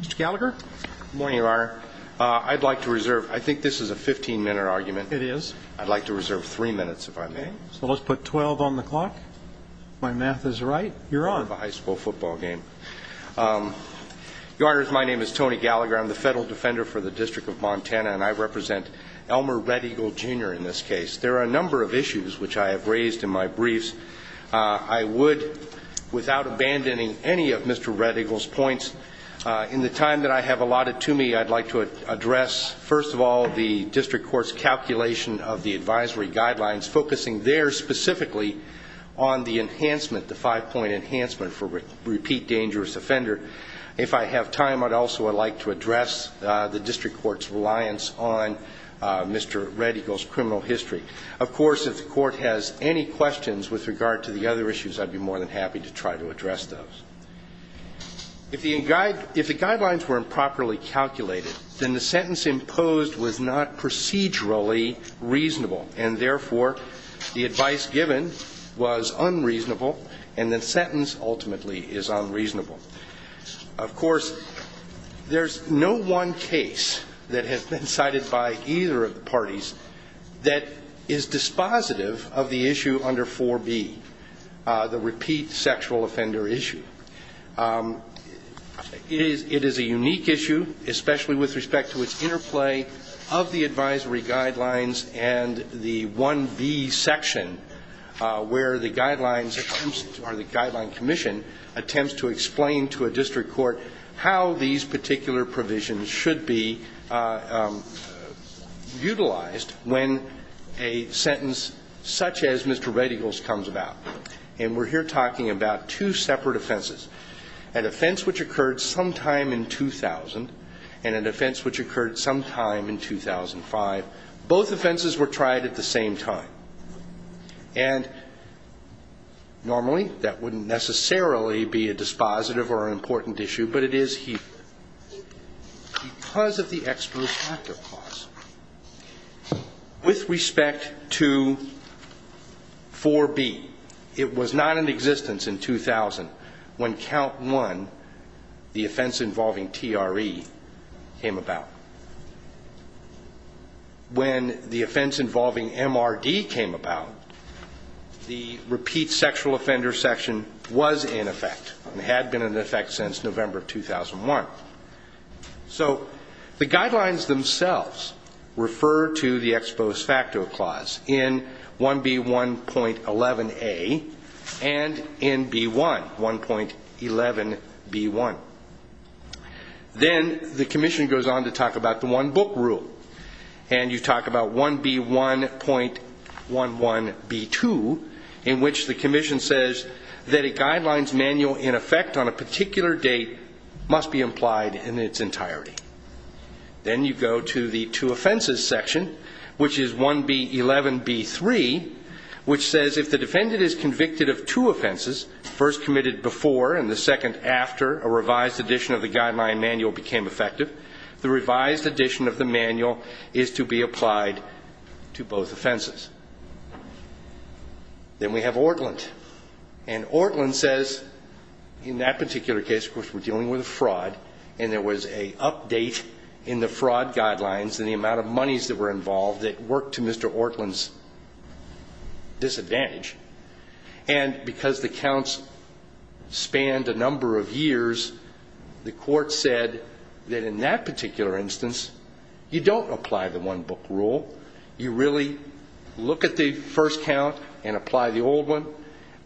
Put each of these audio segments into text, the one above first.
Mr. Gallagher. Good morning, Your Honor. I'd like to reserve, I think this is a 15-minute argument. It is. I'd like to reserve three minutes if I may. So let's put 12 on the clock. My math is right. You're on. High school football game. Your Honor, my name is Tony Gallagher. I'm the federal defender for the District of Montana and I represent Elmer Red Eagle Jr. in this case. There are a number of issues which I have raised in my briefs. I would, without abandoning any of Mr. Red Eagle's points, in the time that I have allotted to me, I'd like to address first of all the district court's calculation of the advisory guidelines, focusing there specifically on the enhancement, the five-point enhancement for repeat dangerous offender. If I have time, I'd also like to address the district court's reliance on Mr. Red Eagle's criminal history. Of course, if the court has any questions with regard to the other issues, I'd be more than happy to try to address those. If the guidelines were improperly calculated, then the sentence imposed was not procedurally reasonable. And therefore, the advice given was unreasonable and the sentence ultimately is unreasonable. Of course, there's no one case that has been cited by either of the parties that is dispositive of the issue under 4B, the repeat sexual offender issue. It is a unique issue, especially with respect to its interplay of the advisory guidelines and the 1B section, where the guidelines or the guideline commission attempts to explain to a district court how these particular provisions should be utilized when a sentence such as Mr. Red Eagle's comes about. And we're here talking about two separate offenses, an offense which occurred sometime in 2000 and an offense which occurred sometime in 2005. Both offenses were tried at the same time. And normally, that wouldn't necessarily be a dispositive or an important issue, but it is here because of the non-existence in 2000 when Count 1, the offense involving TRE, came about. When the offense involving MRD came about, the repeat sexual offender section was in effect and had been in effect since and in B1, 1.11B1. Then the commission goes on to talk about the one book rule. And you talk about 1B1.11B2, in which the commission says that a guidelines manual in effect on a particular date must be implied in its entirety. Then you go to the two offenses section, which is 1B11B3, which says if the defendant is convicted of two offenses, first committed before and the second after a revised edition of the guideline manual became effective, the revised edition of the manual is to be applied to both offenses. Then we have Ortlund. And Ortlund says in that particular case, of course, we're dealing with a fraud, and there was an update in the fraud guidelines and the amount of monies that were involved that worked to Mr. Ortlund's disadvantage. And because the counts spanned a number of years, the court said that in that particular instance, you don't apply the one book rule. You really look at the first count and apply the old one,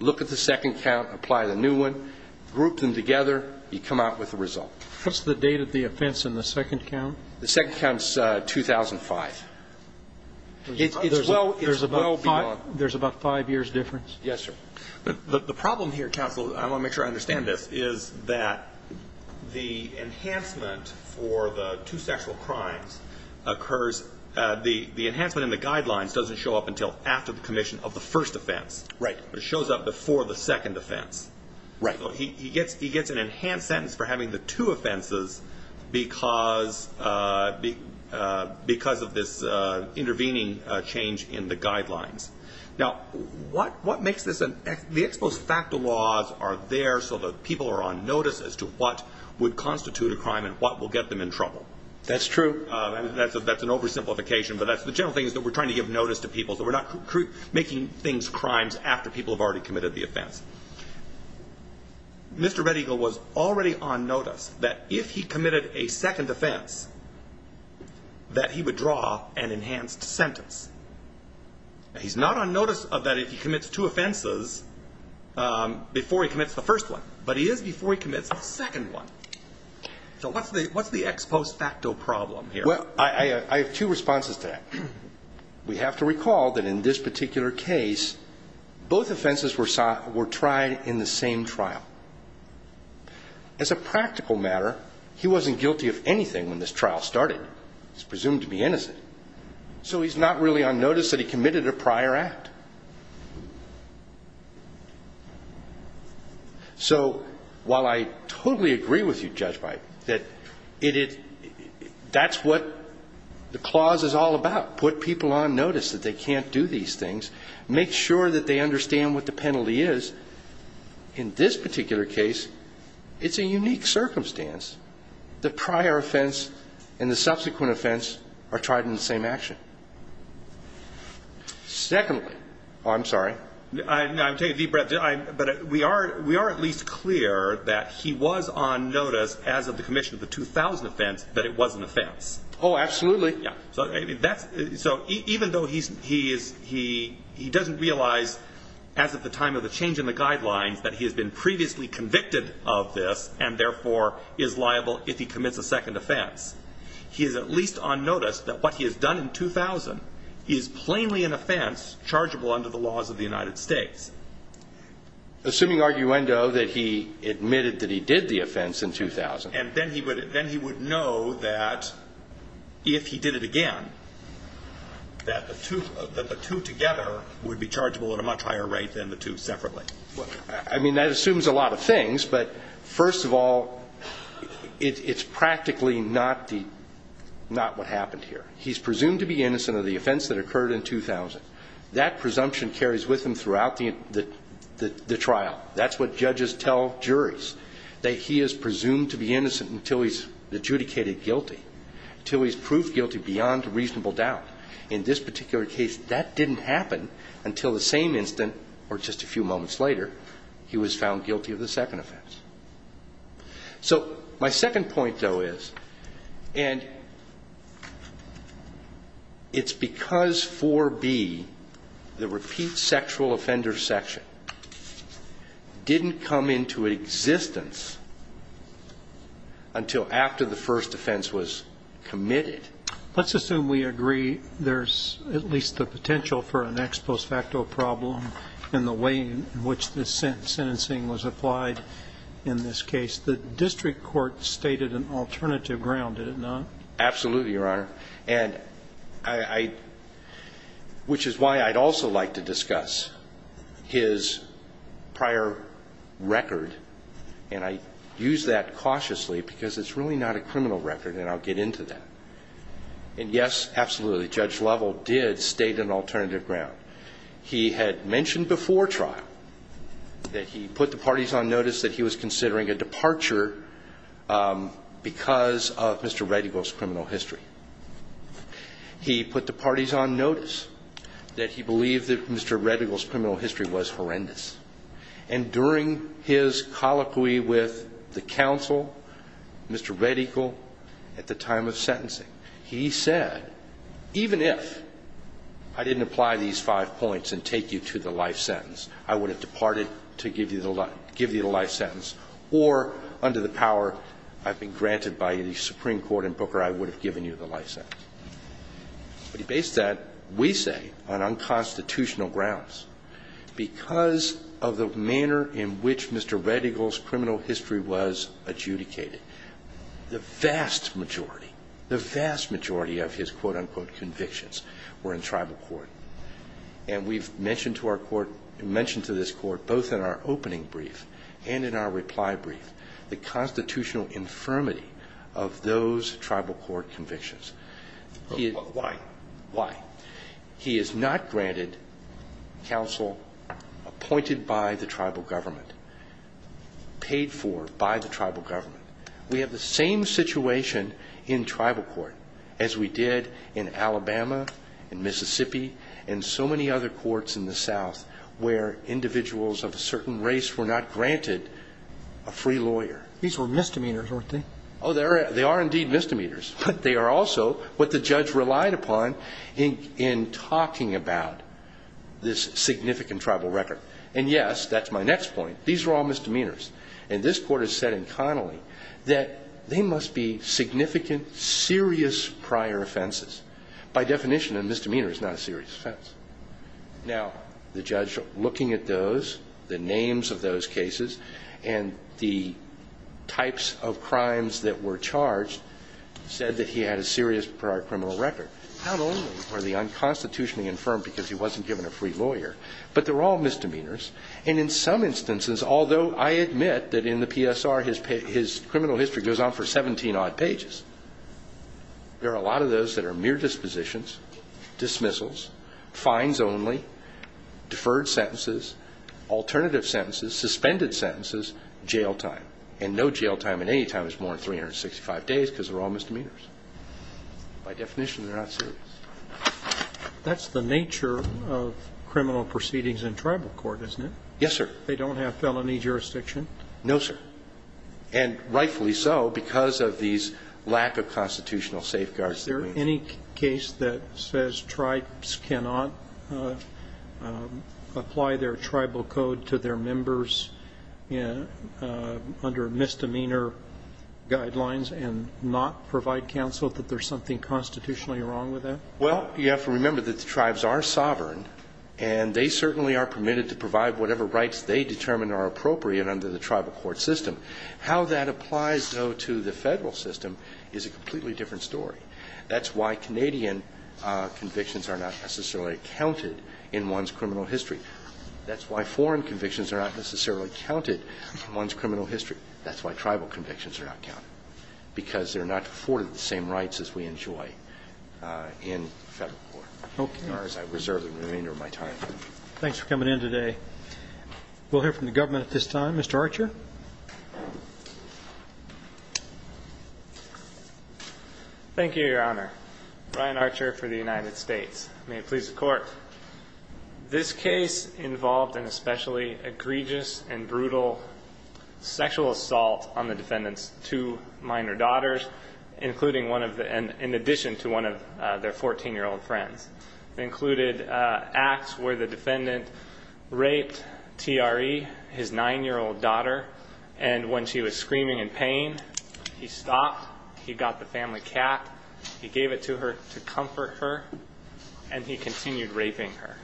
look at the second count, apply the new one, group them together, you come out with the result. What's the date of the offense in the second count? The second count is 2005. It's well beyond. There's about five years' difference? Yes, sir. The problem here, counsel, I want to make sure I understand this, is that the enhancement for the two sexual crimes occurs, the enhancement in the guidelines doesn't show up until after the commission of the first offense. Right. It shows up before the second offense. Right. So he gets an enhanced sentence for having the two offenses because of this intervening change in the guidelines. Now, what makes this an the ex post facto laws are there so that people are on notice as to what would constitute a crime and what will get them in trouble? That's true. And that's an oversimplification, but that's the general thing is that we're trying to give notice to people. So we're not making things crimes after people have already committed the offense. Mr. Red Eagle was already on notice that if he committed a second offense, that he would draw an enhanced sentence. He's not on notice of that if he commits two offenses before he commits the first one, but he is before he commits a second one. So what's the ex post facto problem here? Well, I have two responses to that. We have to recall that in this particular case, both offenses were tried in the same trial. As a practical matter, he wasn't guilty of anything when this trial started. He's presumed to be innocent. So he's not really on notice that he committed a prior act. So while I totally agree with you, Judge Byte, that that's what the clause is all about. Put people on notice that they can't do these things. Make sure that they understand what the penalty is. In this particular case, it's a unique circumstance. The prior offense and the subsequent offense are tried in the same action. Secondly, I'm sorry. I'm taking a deep breath, but we are at least clear that he was on notice as of the commission of the 2000 offense that it was an offense. Oh, absolutely. Yeah, so even though he doesn't realize as of the time of the change in the guidelines that he has been previously convicted of this and therefore is liable if he commits a second offense, he is at least on notice that what he has done in 2000 is plainly an offense chargeable under the laws of the United States. Assuming arguendo that he admitted that he did the offense in 2000. And then he would know that if he did it again, that the two together would be chargeable at a much higher rate than the two separately. I mean, that assumes a lot of things, but first of all, it's practically not what happened here. He's presumed to be innocent of the offense that occurred in 2000. That presumption carries with him throughout the trial. That's what judges tell juries. That he is presumed to be innocent until he's adjudicated guilty, until he's proved guilty beyond a reasonable doubt. In this particular case, that didn't happen until the same instant or just a few moments later, he was found guilty of the second offense. So my second point though is, and it's because 4B, the repeat sexual offender section, didn't come into existence until after the first offense was committed. Let's assume we agree there's at least the potential for an ex post facto problem in the way in which this sentencing was applied in this case. The district court stated an alternative ground, did it not? Absolutely, Your Honor. And I, which is why I'd also like to discuss his prior record. And I use that cautiously because it's really not a criminal record and I'll get into that. And yes, absolutely, Judge Lovell did state an alternative ground. He had mentioned before trial that he put the parties on notice that he was considering a departure because of Mr. Redigal's criminal history. He put the parties on notice that he believed that Mr. Redigal's criminal history was horrendous. And during his colloquy with the counsel, Mr. Redigal, at the time of sentencing, he said, even if I didn't apply these five points and take you to the life sentence, I would have departed to give you the life sentence, or under the power I've been granted by the Supreme Court in Booker, I would have given you the life sentence. But he based that, we say, on unconstitutional grounds. Because of the manner in which Mr. Redigal's criminal history was adjudicated, the vast majority, the vast majority of his quote unquote convictions were in tribal court. And we've mentioned to our court, mentioned to this court, both in our opening brief and in our reply brief, the constitutional infirmity of those tribal court convictions. Why? Why? He has not granted counsel appointed by the tribal government, paid for by the tribal government. We have the same situation in tribal court as we did in Alabama, in Mississippi, and so many other courts in the South where individuals of a certain race were not granted a free lawyer. These were misdemeanors, weren't they? Oh, they are indeed misdemeanors. But they are also what the judge relied upon in talking about this significant tribal record. And yes, that's my next point. These are all misdemeanors. And this court has said incoherently that they must be significant, serious prior offenses. By definition, a misdemeanor is not a serious offense. Now, the judge looking at those, the names of those cases, and the types of crimes that were charged, said that he had a serious prior criminal record. Not only were they unconstitutionally infirmed because he wasn't given a free lawyer, but they're all misdemeanors. And in some instances, although I admit that in the PSR his criminal history goes on for 17 odd pages, there are a lot of those that are mere dispositions, dismissals, fines only, deferred sentences, alternative sentences, suspended sentences, jail time. And no jail time in any time is more than 365 days because they're all misdemeanors. By definition, they're not serious. That's the nature of criminal proceedings in tribal court, isn't it? Yes, sir. They don't have felony jurisdiction? No, sir. And rightfully so, because of these lack of constitutional safeguards. Is there any case that says tribes cannot apply their tribal code to their members under misdemeanor guidelines and not provide counsel, that there's something constitutionally wrong with that? Well, you have to remember that the tribes are sovereign. And they certainly are permitted to provide whatever rights they determine are appropriate under the tribal court system. How that applies, though, to the federal system is a completely different story. That's why Canadian convictions are not necessarily counted in one's criminal history. That's why foreign convictions are not necessarily counted in one's criminal history. That's why tribal convictions are not counted. Because they're not afforded the same rights as we enjoy in federal court. Okay. As far as I reserve the remainder of my time. Thanks for coming in today. We'll hear from the government at this time. Mr. Archer? Thank you, your honor. Brian Archer for the United States. May it please the court. This case involved an especially egregious and brutal sexual assault on the defendant's two minor daughters. Including one of the, in addition to one of their 14-year-old friends. It included acts where the defendant raped TRE, his nine-year-old daughter. And when she was screaming in pain, he stopped, he got the family cat, he gave it to her to comfort her, and he continued raping her.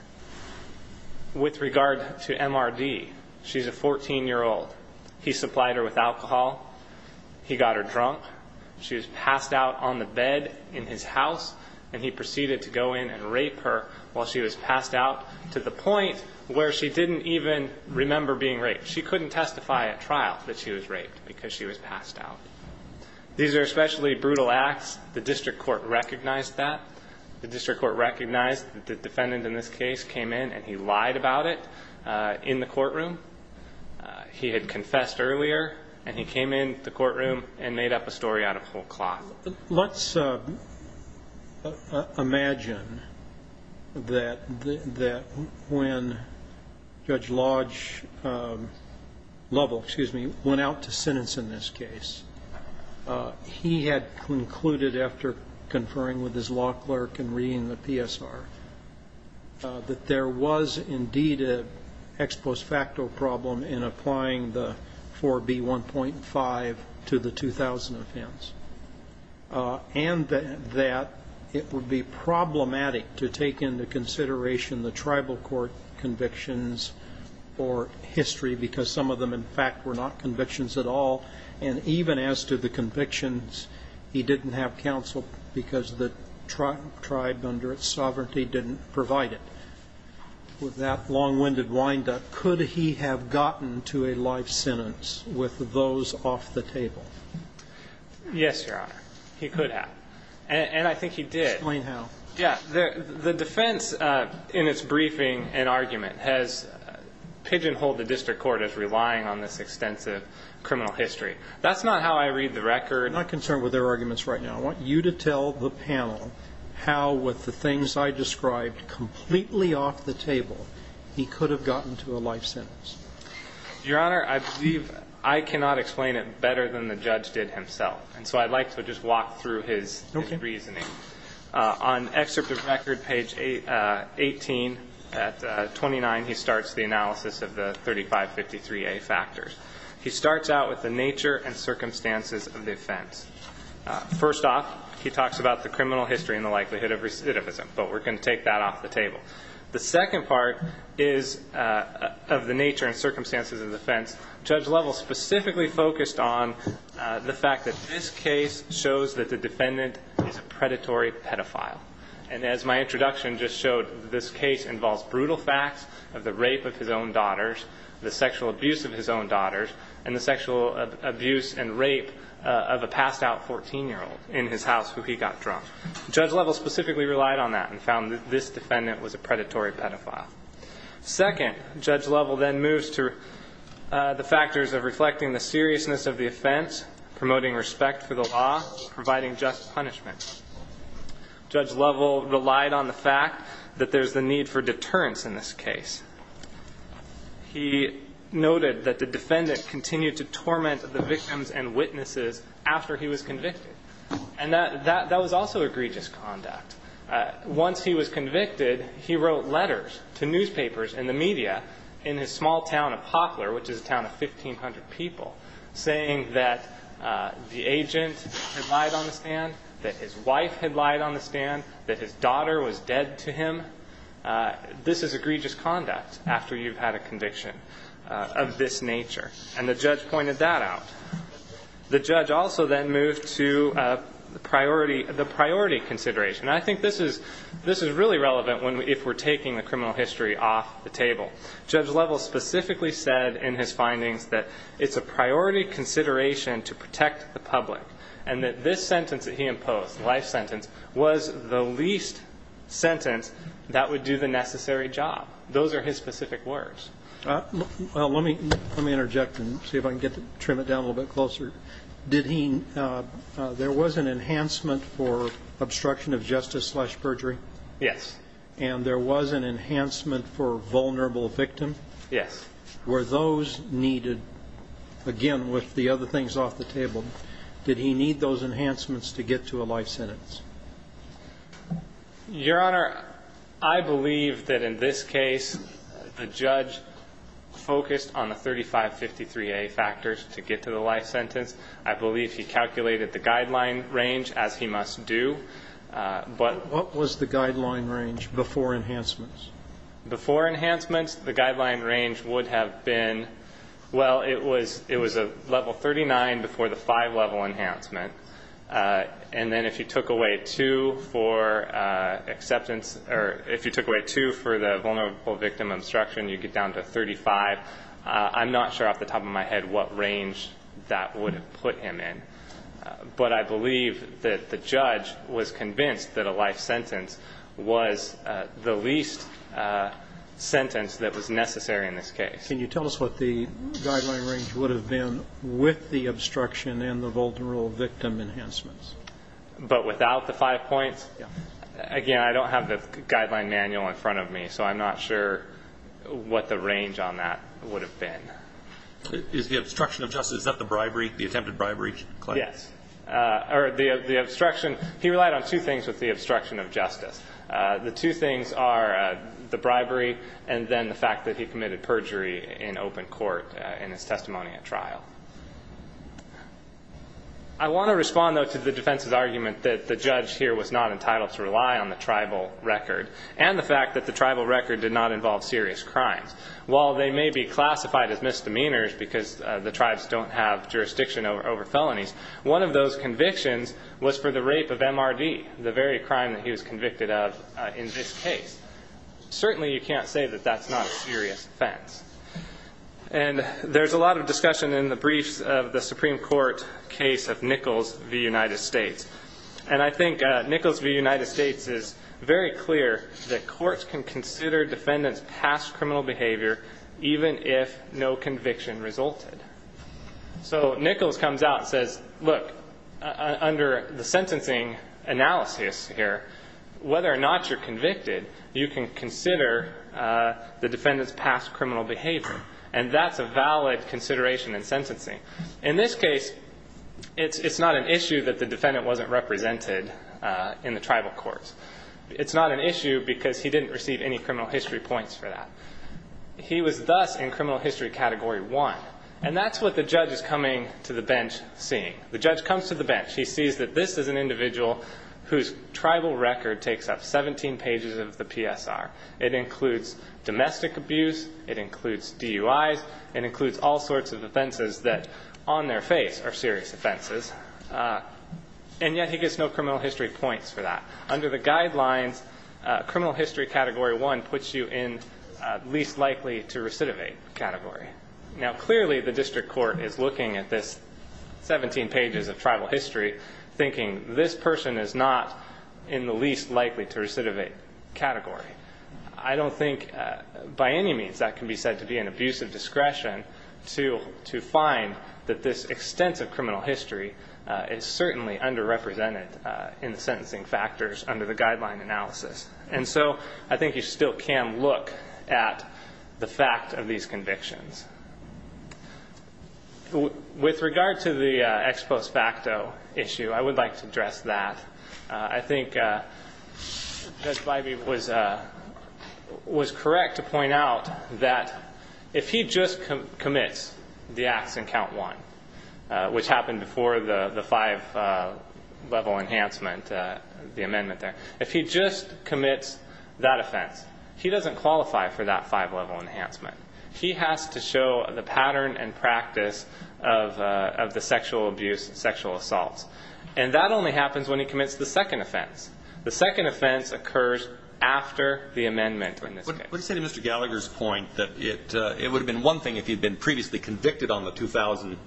With regard to MRD, she's a 14-year-old. He supplied her with alcohol, he got her drunk, she was passed out on the bed in his house. And he proceeded to go in and rape her while she was passed out. To the point where she didn't even remember being raped. She couldn't testify at trial that she was raped because she was passed out. These are especially brutal acts. The district court recognized that. The district court recognized that the defendant in this case came in and he lied about it in the courtroom. He had confessed earlier and he came in the courtroom and made up a story out of whole cloth. Let's imagine that when Judge Lodge went out to sentence in this case, he had concluded after conferring with his law clerk and reading the PSR, that there was indeed an ex post facto problem in applying the 4B1.5 to the 2000 offense. And that it would be problematic to take into consideration the tribal court convictions or history because some of them in fact were not convictions at all. And even as to the convictions, he didn't have counsel because the tribe under its sovereignty didn't provide it. With that long-winded windup, could he have gotten to a life sentence with those off the table? Yes, Your Honor. He could have. And I think he did. Explain how. Yeah, the defense in its briefing and argument has pigeonholed the district court as relying on this extensive criminal history. That's not how I read the record. I'm not concerned with their arguments right now. I want you to tell the panel how with the things I described completely off the table, he could have gotten to a life sentence. Your Honor, I believe I cannot explain it better than the judge did himself. And so I'd like to just walk through his reasoning. On excerpt of record, page 18 at 29, he starts the analysis of the 3553A factors. He starts out with the nature and circumstances of the offense. First off, he talks about the criminal history and the likelihood of recidivism, but we're going to take that off the table. The second part is of the nature and circumstances of the offense. Judge Lovell specifically focused on the fact that this case shows that the defendant is a predatory pedophile. And as my introduction just showed, this case involves brutal facts of the rape of his own daughters, the sexual abuse of his own daughters, and the sexual abuse and rape of a passed out 14-year-old in his house who he got drunk. Judge Lovell specifically relied on that and found that this defendant was a predatory pedophile. Second, Judge Lovell then moves to the factors of reflecting the seriousness of the offense, promoting respect for the law, providing just punishment. Judge Lovell relied on the fact that there's the need for deterrence in this case. He noted that the defendant continued to torment the victims and witnesses after he was convicted. And that was also egregious conduct. Once he was convicted, he wrote letters to newspapers and the media in his small town of Hoplar, which is a town of 1,500 people, saying that the agent had lied on the stand, that his wife had lied on the stand, that his daughter was dead to him. This is egregious conduct after you've had a conviction of this nature. And the judge pointed that out. The judge also then moved to the priority consideration. And I think this is really relevant if we're taking the criminal history off the table. Judge Lovell specifically said in his findings that it's a priority consideration to protect the public. And that this sentence that he imposed, the life sentence, was the least sentence that would do the necessary job. Those are his specific words. Well, let me interject and see if I can trim it down a little bit closer. Did he, there was an enhancement for obstruction of justice slash perjury? Yes. And there was an enhancement for vulnerable victim? Yes. Were those needed, again, with the other things off the table, did he need those enhancements to get to a life sentence? Your Honor, I believe that in this case, the judge focused on the 3553A factors to get to the life sentence. I believe he calculated the guideline range, as he must do, but- What was the guideline range before enhancements? Before enhancements, the guideline range would have been, well, it was a level 39 before the five level enhancement. And then if you took away two for acceptance, or if you took away two for the vulnerable victim obstruction, you get down to 35. I'm not sure off the top of my head what range that would have put him in. But I believe that the judge was convinced that a life sentence was the least sentence that was necessary in this case. Can you tell us what the guideline range would have been with the obstruction and the vulnerable victim enhancements? But without the five points? Yeah. Again, I don't have the guideline manual in front of me, so I'm not sure what the range on that would have been. Is the obstruction of justice, is that the bribery, the attempted bribery claim? Yes. Or the obstruction, he relied on two things with the obstruction of justice. The two things are the bribery and then the fact that he committed perjury in open court in his testimony at trial. I want to respond, though, to the defense's argument that the judge here was not entitled to rely on the tribal record and the fact that the tribal record did not involve serious crimes. While they may be classified as misdemeanors because the tribes don't have jurisdiction over felonies, one of those convictions was for the rape of MRD, the very crime that he was convicted of in this case. Certainly, you can't say that that's not a serious offense. And there's a lot of discussion in the briefs of the Supreme Court case of Nichols v. United States. And I think Nichols v. United States is very clear that courts can consider defendants' past criminal behavior even if no conviction resulted. So Nichols comes out and says, look, under the sentencing analysis here, whether or not you're convicted, you can consider the defendant's past criminal behavior. And that's a valid consideration in sentencing. In this case, it's not an issue that the defendant wasn't represented in the tribal courts. It's not an issue because he didn't receive any criminal history points for that. He was thus in criminal history category one. And that's what the judge is coming to the bench seeing. The judge comes to the bench. He sees that this is an individual whose tribal record takes up 17 pages of the PSR. It includes domestic abuse. It includes DUIs. It includes all sorts of offenses that on their face are serious offenses. And yet he gets no criminal history points for that. Under the guidelines, criminal history category one puts you in least likely to recidivate category. Now clearly the district court is looking at this 17 pages of tribal history, thinking this person is not in the least likely to recidivate category. I don't think by any means that can be said to be an abuse of discretion to find that this extensive criminal history is certainly underrepresented in the sentencing factors under the guideline analysis. And so I think you still can look at the fact of these convictions. With regard to the ex post facto issue, I would like to address that. I think Judge Bybee was correct to point out that if he just commits the acts in count one, which happened before the five level enhancement, the amendment there. If he just commits that offense, he doesn't qualify for that five level enhancement. He has to show the pattern and practice of the sexual abuse and sexual assaults. And that only happens when he commits the second offense. The second offense occurs after the amendment in this case. What do you say to Mr. Gallagher's point that it would have been one thing if he'd been previously convicted on the 2000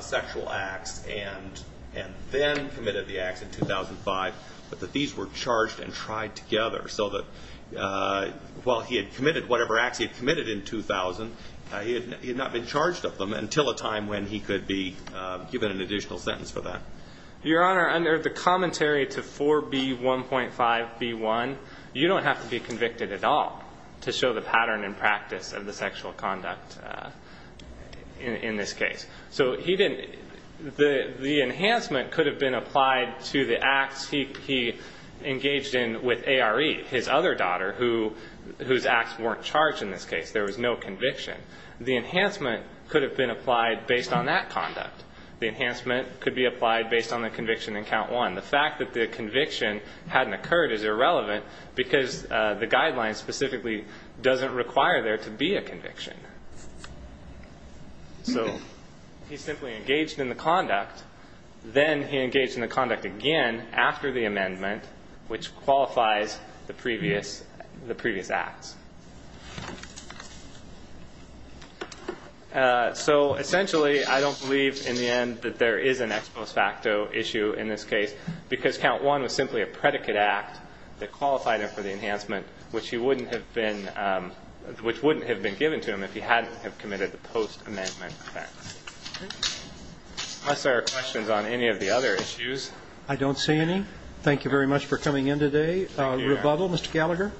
sexual acts and then committed the acts in 2005. But that these were charged and tried together so that while he had committed whatever acts he had committed in 2000, he had not been charged of them until a time when he could be given an additional sentence for that. Your Honor, under the commentary to 4B1.5B1, you don't have to be convicted at all to show the pattern and practice of the sexual conduct in this case. So the enhancement could have been applied to the acts he engaged in with ARE, his other daughter, whose acts weren't charged in this case. There was no conviction. The enhancement could have been applied based on that conduct. The enhancement could be applied based on the conviction in count one. The fact that the conviction hadn't occurred is irrelevant because the guidelines specifically doesn't require there to be a conviction. So he simply engaged in the conduct. Then he engaged in the conduct again after the amendment, which qualifies the previous acts. So essentially, I don't believe in the end that there is an ex post facto issue in this case because count one was simply a predicate act that qualified him for the enhancement, which he wouldn't have been, which wouldn't have been given to him if he hadn't have committed the post-amendment act. Unless there are questions on any of the other issues. I don't see any. Thank you very much for coming in today. Rebuttal, Mr. Gallagher.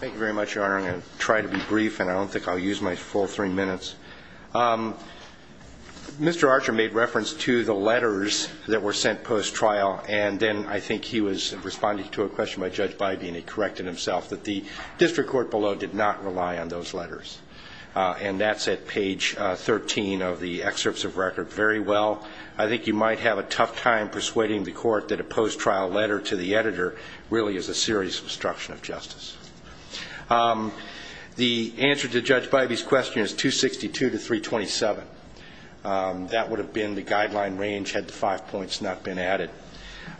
Thank you very much, Your Honor. I'm going to try to be brief and I don't think I'll use my full three minutes. Mr. Archer made reference to the letters that were sent post-trial and then I think he was responding to a question by Judge Bybee and he corrected himself that the district court below did not rely on those letters. And that's at page 13 of the excerpts of record. Very well. I think you might have a tough time persuading the court that a post-trial letter to the editor really is a serious obstruction of justice. The answer to Judge Bybee's question is 262 to 327. That would have been the guideline range had the five points not been added.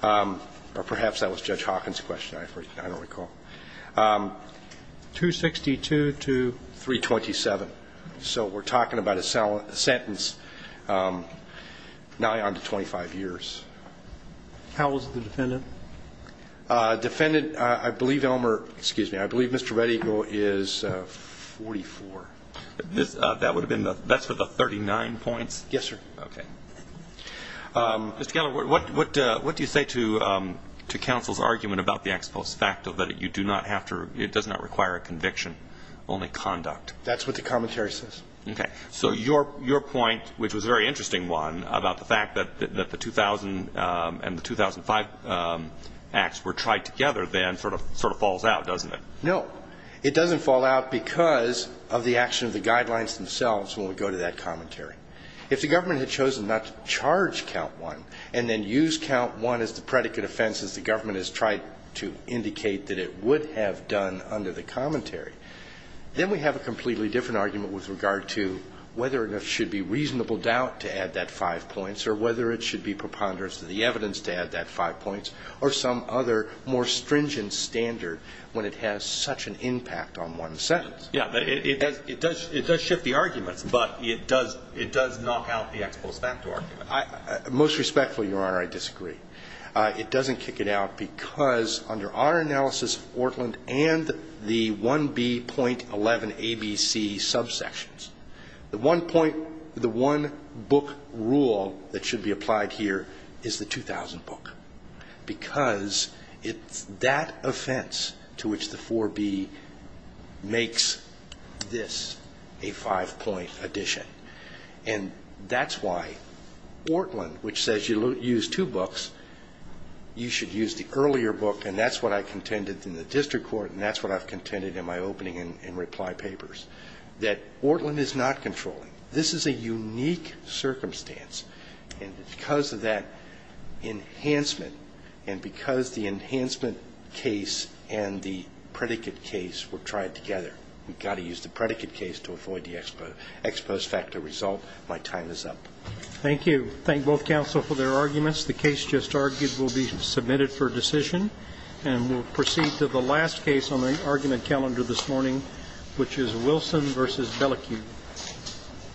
Or perhaps that was Judge Hawkins' question, I don't recall. 262 to 327. So we're talking about a sentence now on to 25 years. How old is the defendant? Defendant, I believe Elmer, excuse me, I believe Mr. Red Eagle is 44. That would have been the, that's for the 39 points? Yes, sir. Okay. Mr. Gallagher, what do you say to counsel's argument about the ex post facto, that you do not have to, it does not require a conviction, only conduct? That's what the commentary says. Okay, so your point, which was a very interesting one, about the fact that the 2000 and the 2005 acts were tried together, then sort of falls out, doesn't it? No. It doesn't fall out because of the action of the guidelines themselves, when we go to that commentary. If the government had chosen not to charge count one, and then use count one as the predicate offense as the government has tried to indicate that it would have done under the commentary. Then we have a completely different argument with regard to whether or not it should be preponderance of the evidence to add that five points. Or some other more stringent standard when it has such an impact on one sentence. Yeah, it does shift the arguments, but it does knock out the ex post facto argument. Most respectfully, your honor, I disagree. It doesn't kick it out because under our analysis of Portland and the 1B.11 ABC subsections, the one point, the one book rule that should be applied here is the 2000 book. Because it's that offense to which the 4B makes this a five point addition. And that's why Portland, which says you use two books, you should use the earlier book, and that's what I contended in the district court, and that's what I've contended in my opening and reply papers. That Portland is not controlling. This is a unique circumstance, and because of that enhancement, and because the enhancement case and the predicate case were tried together, we've got to use the predicate case to avoid the ex post facto result, my time is up. Thank you. Thank both counsel for their arguments. The case just argued will be submitted for decision. And we'll proceed to the last case on the argument calendar this morning, which is Wilson v. Bellecoup. Thank you.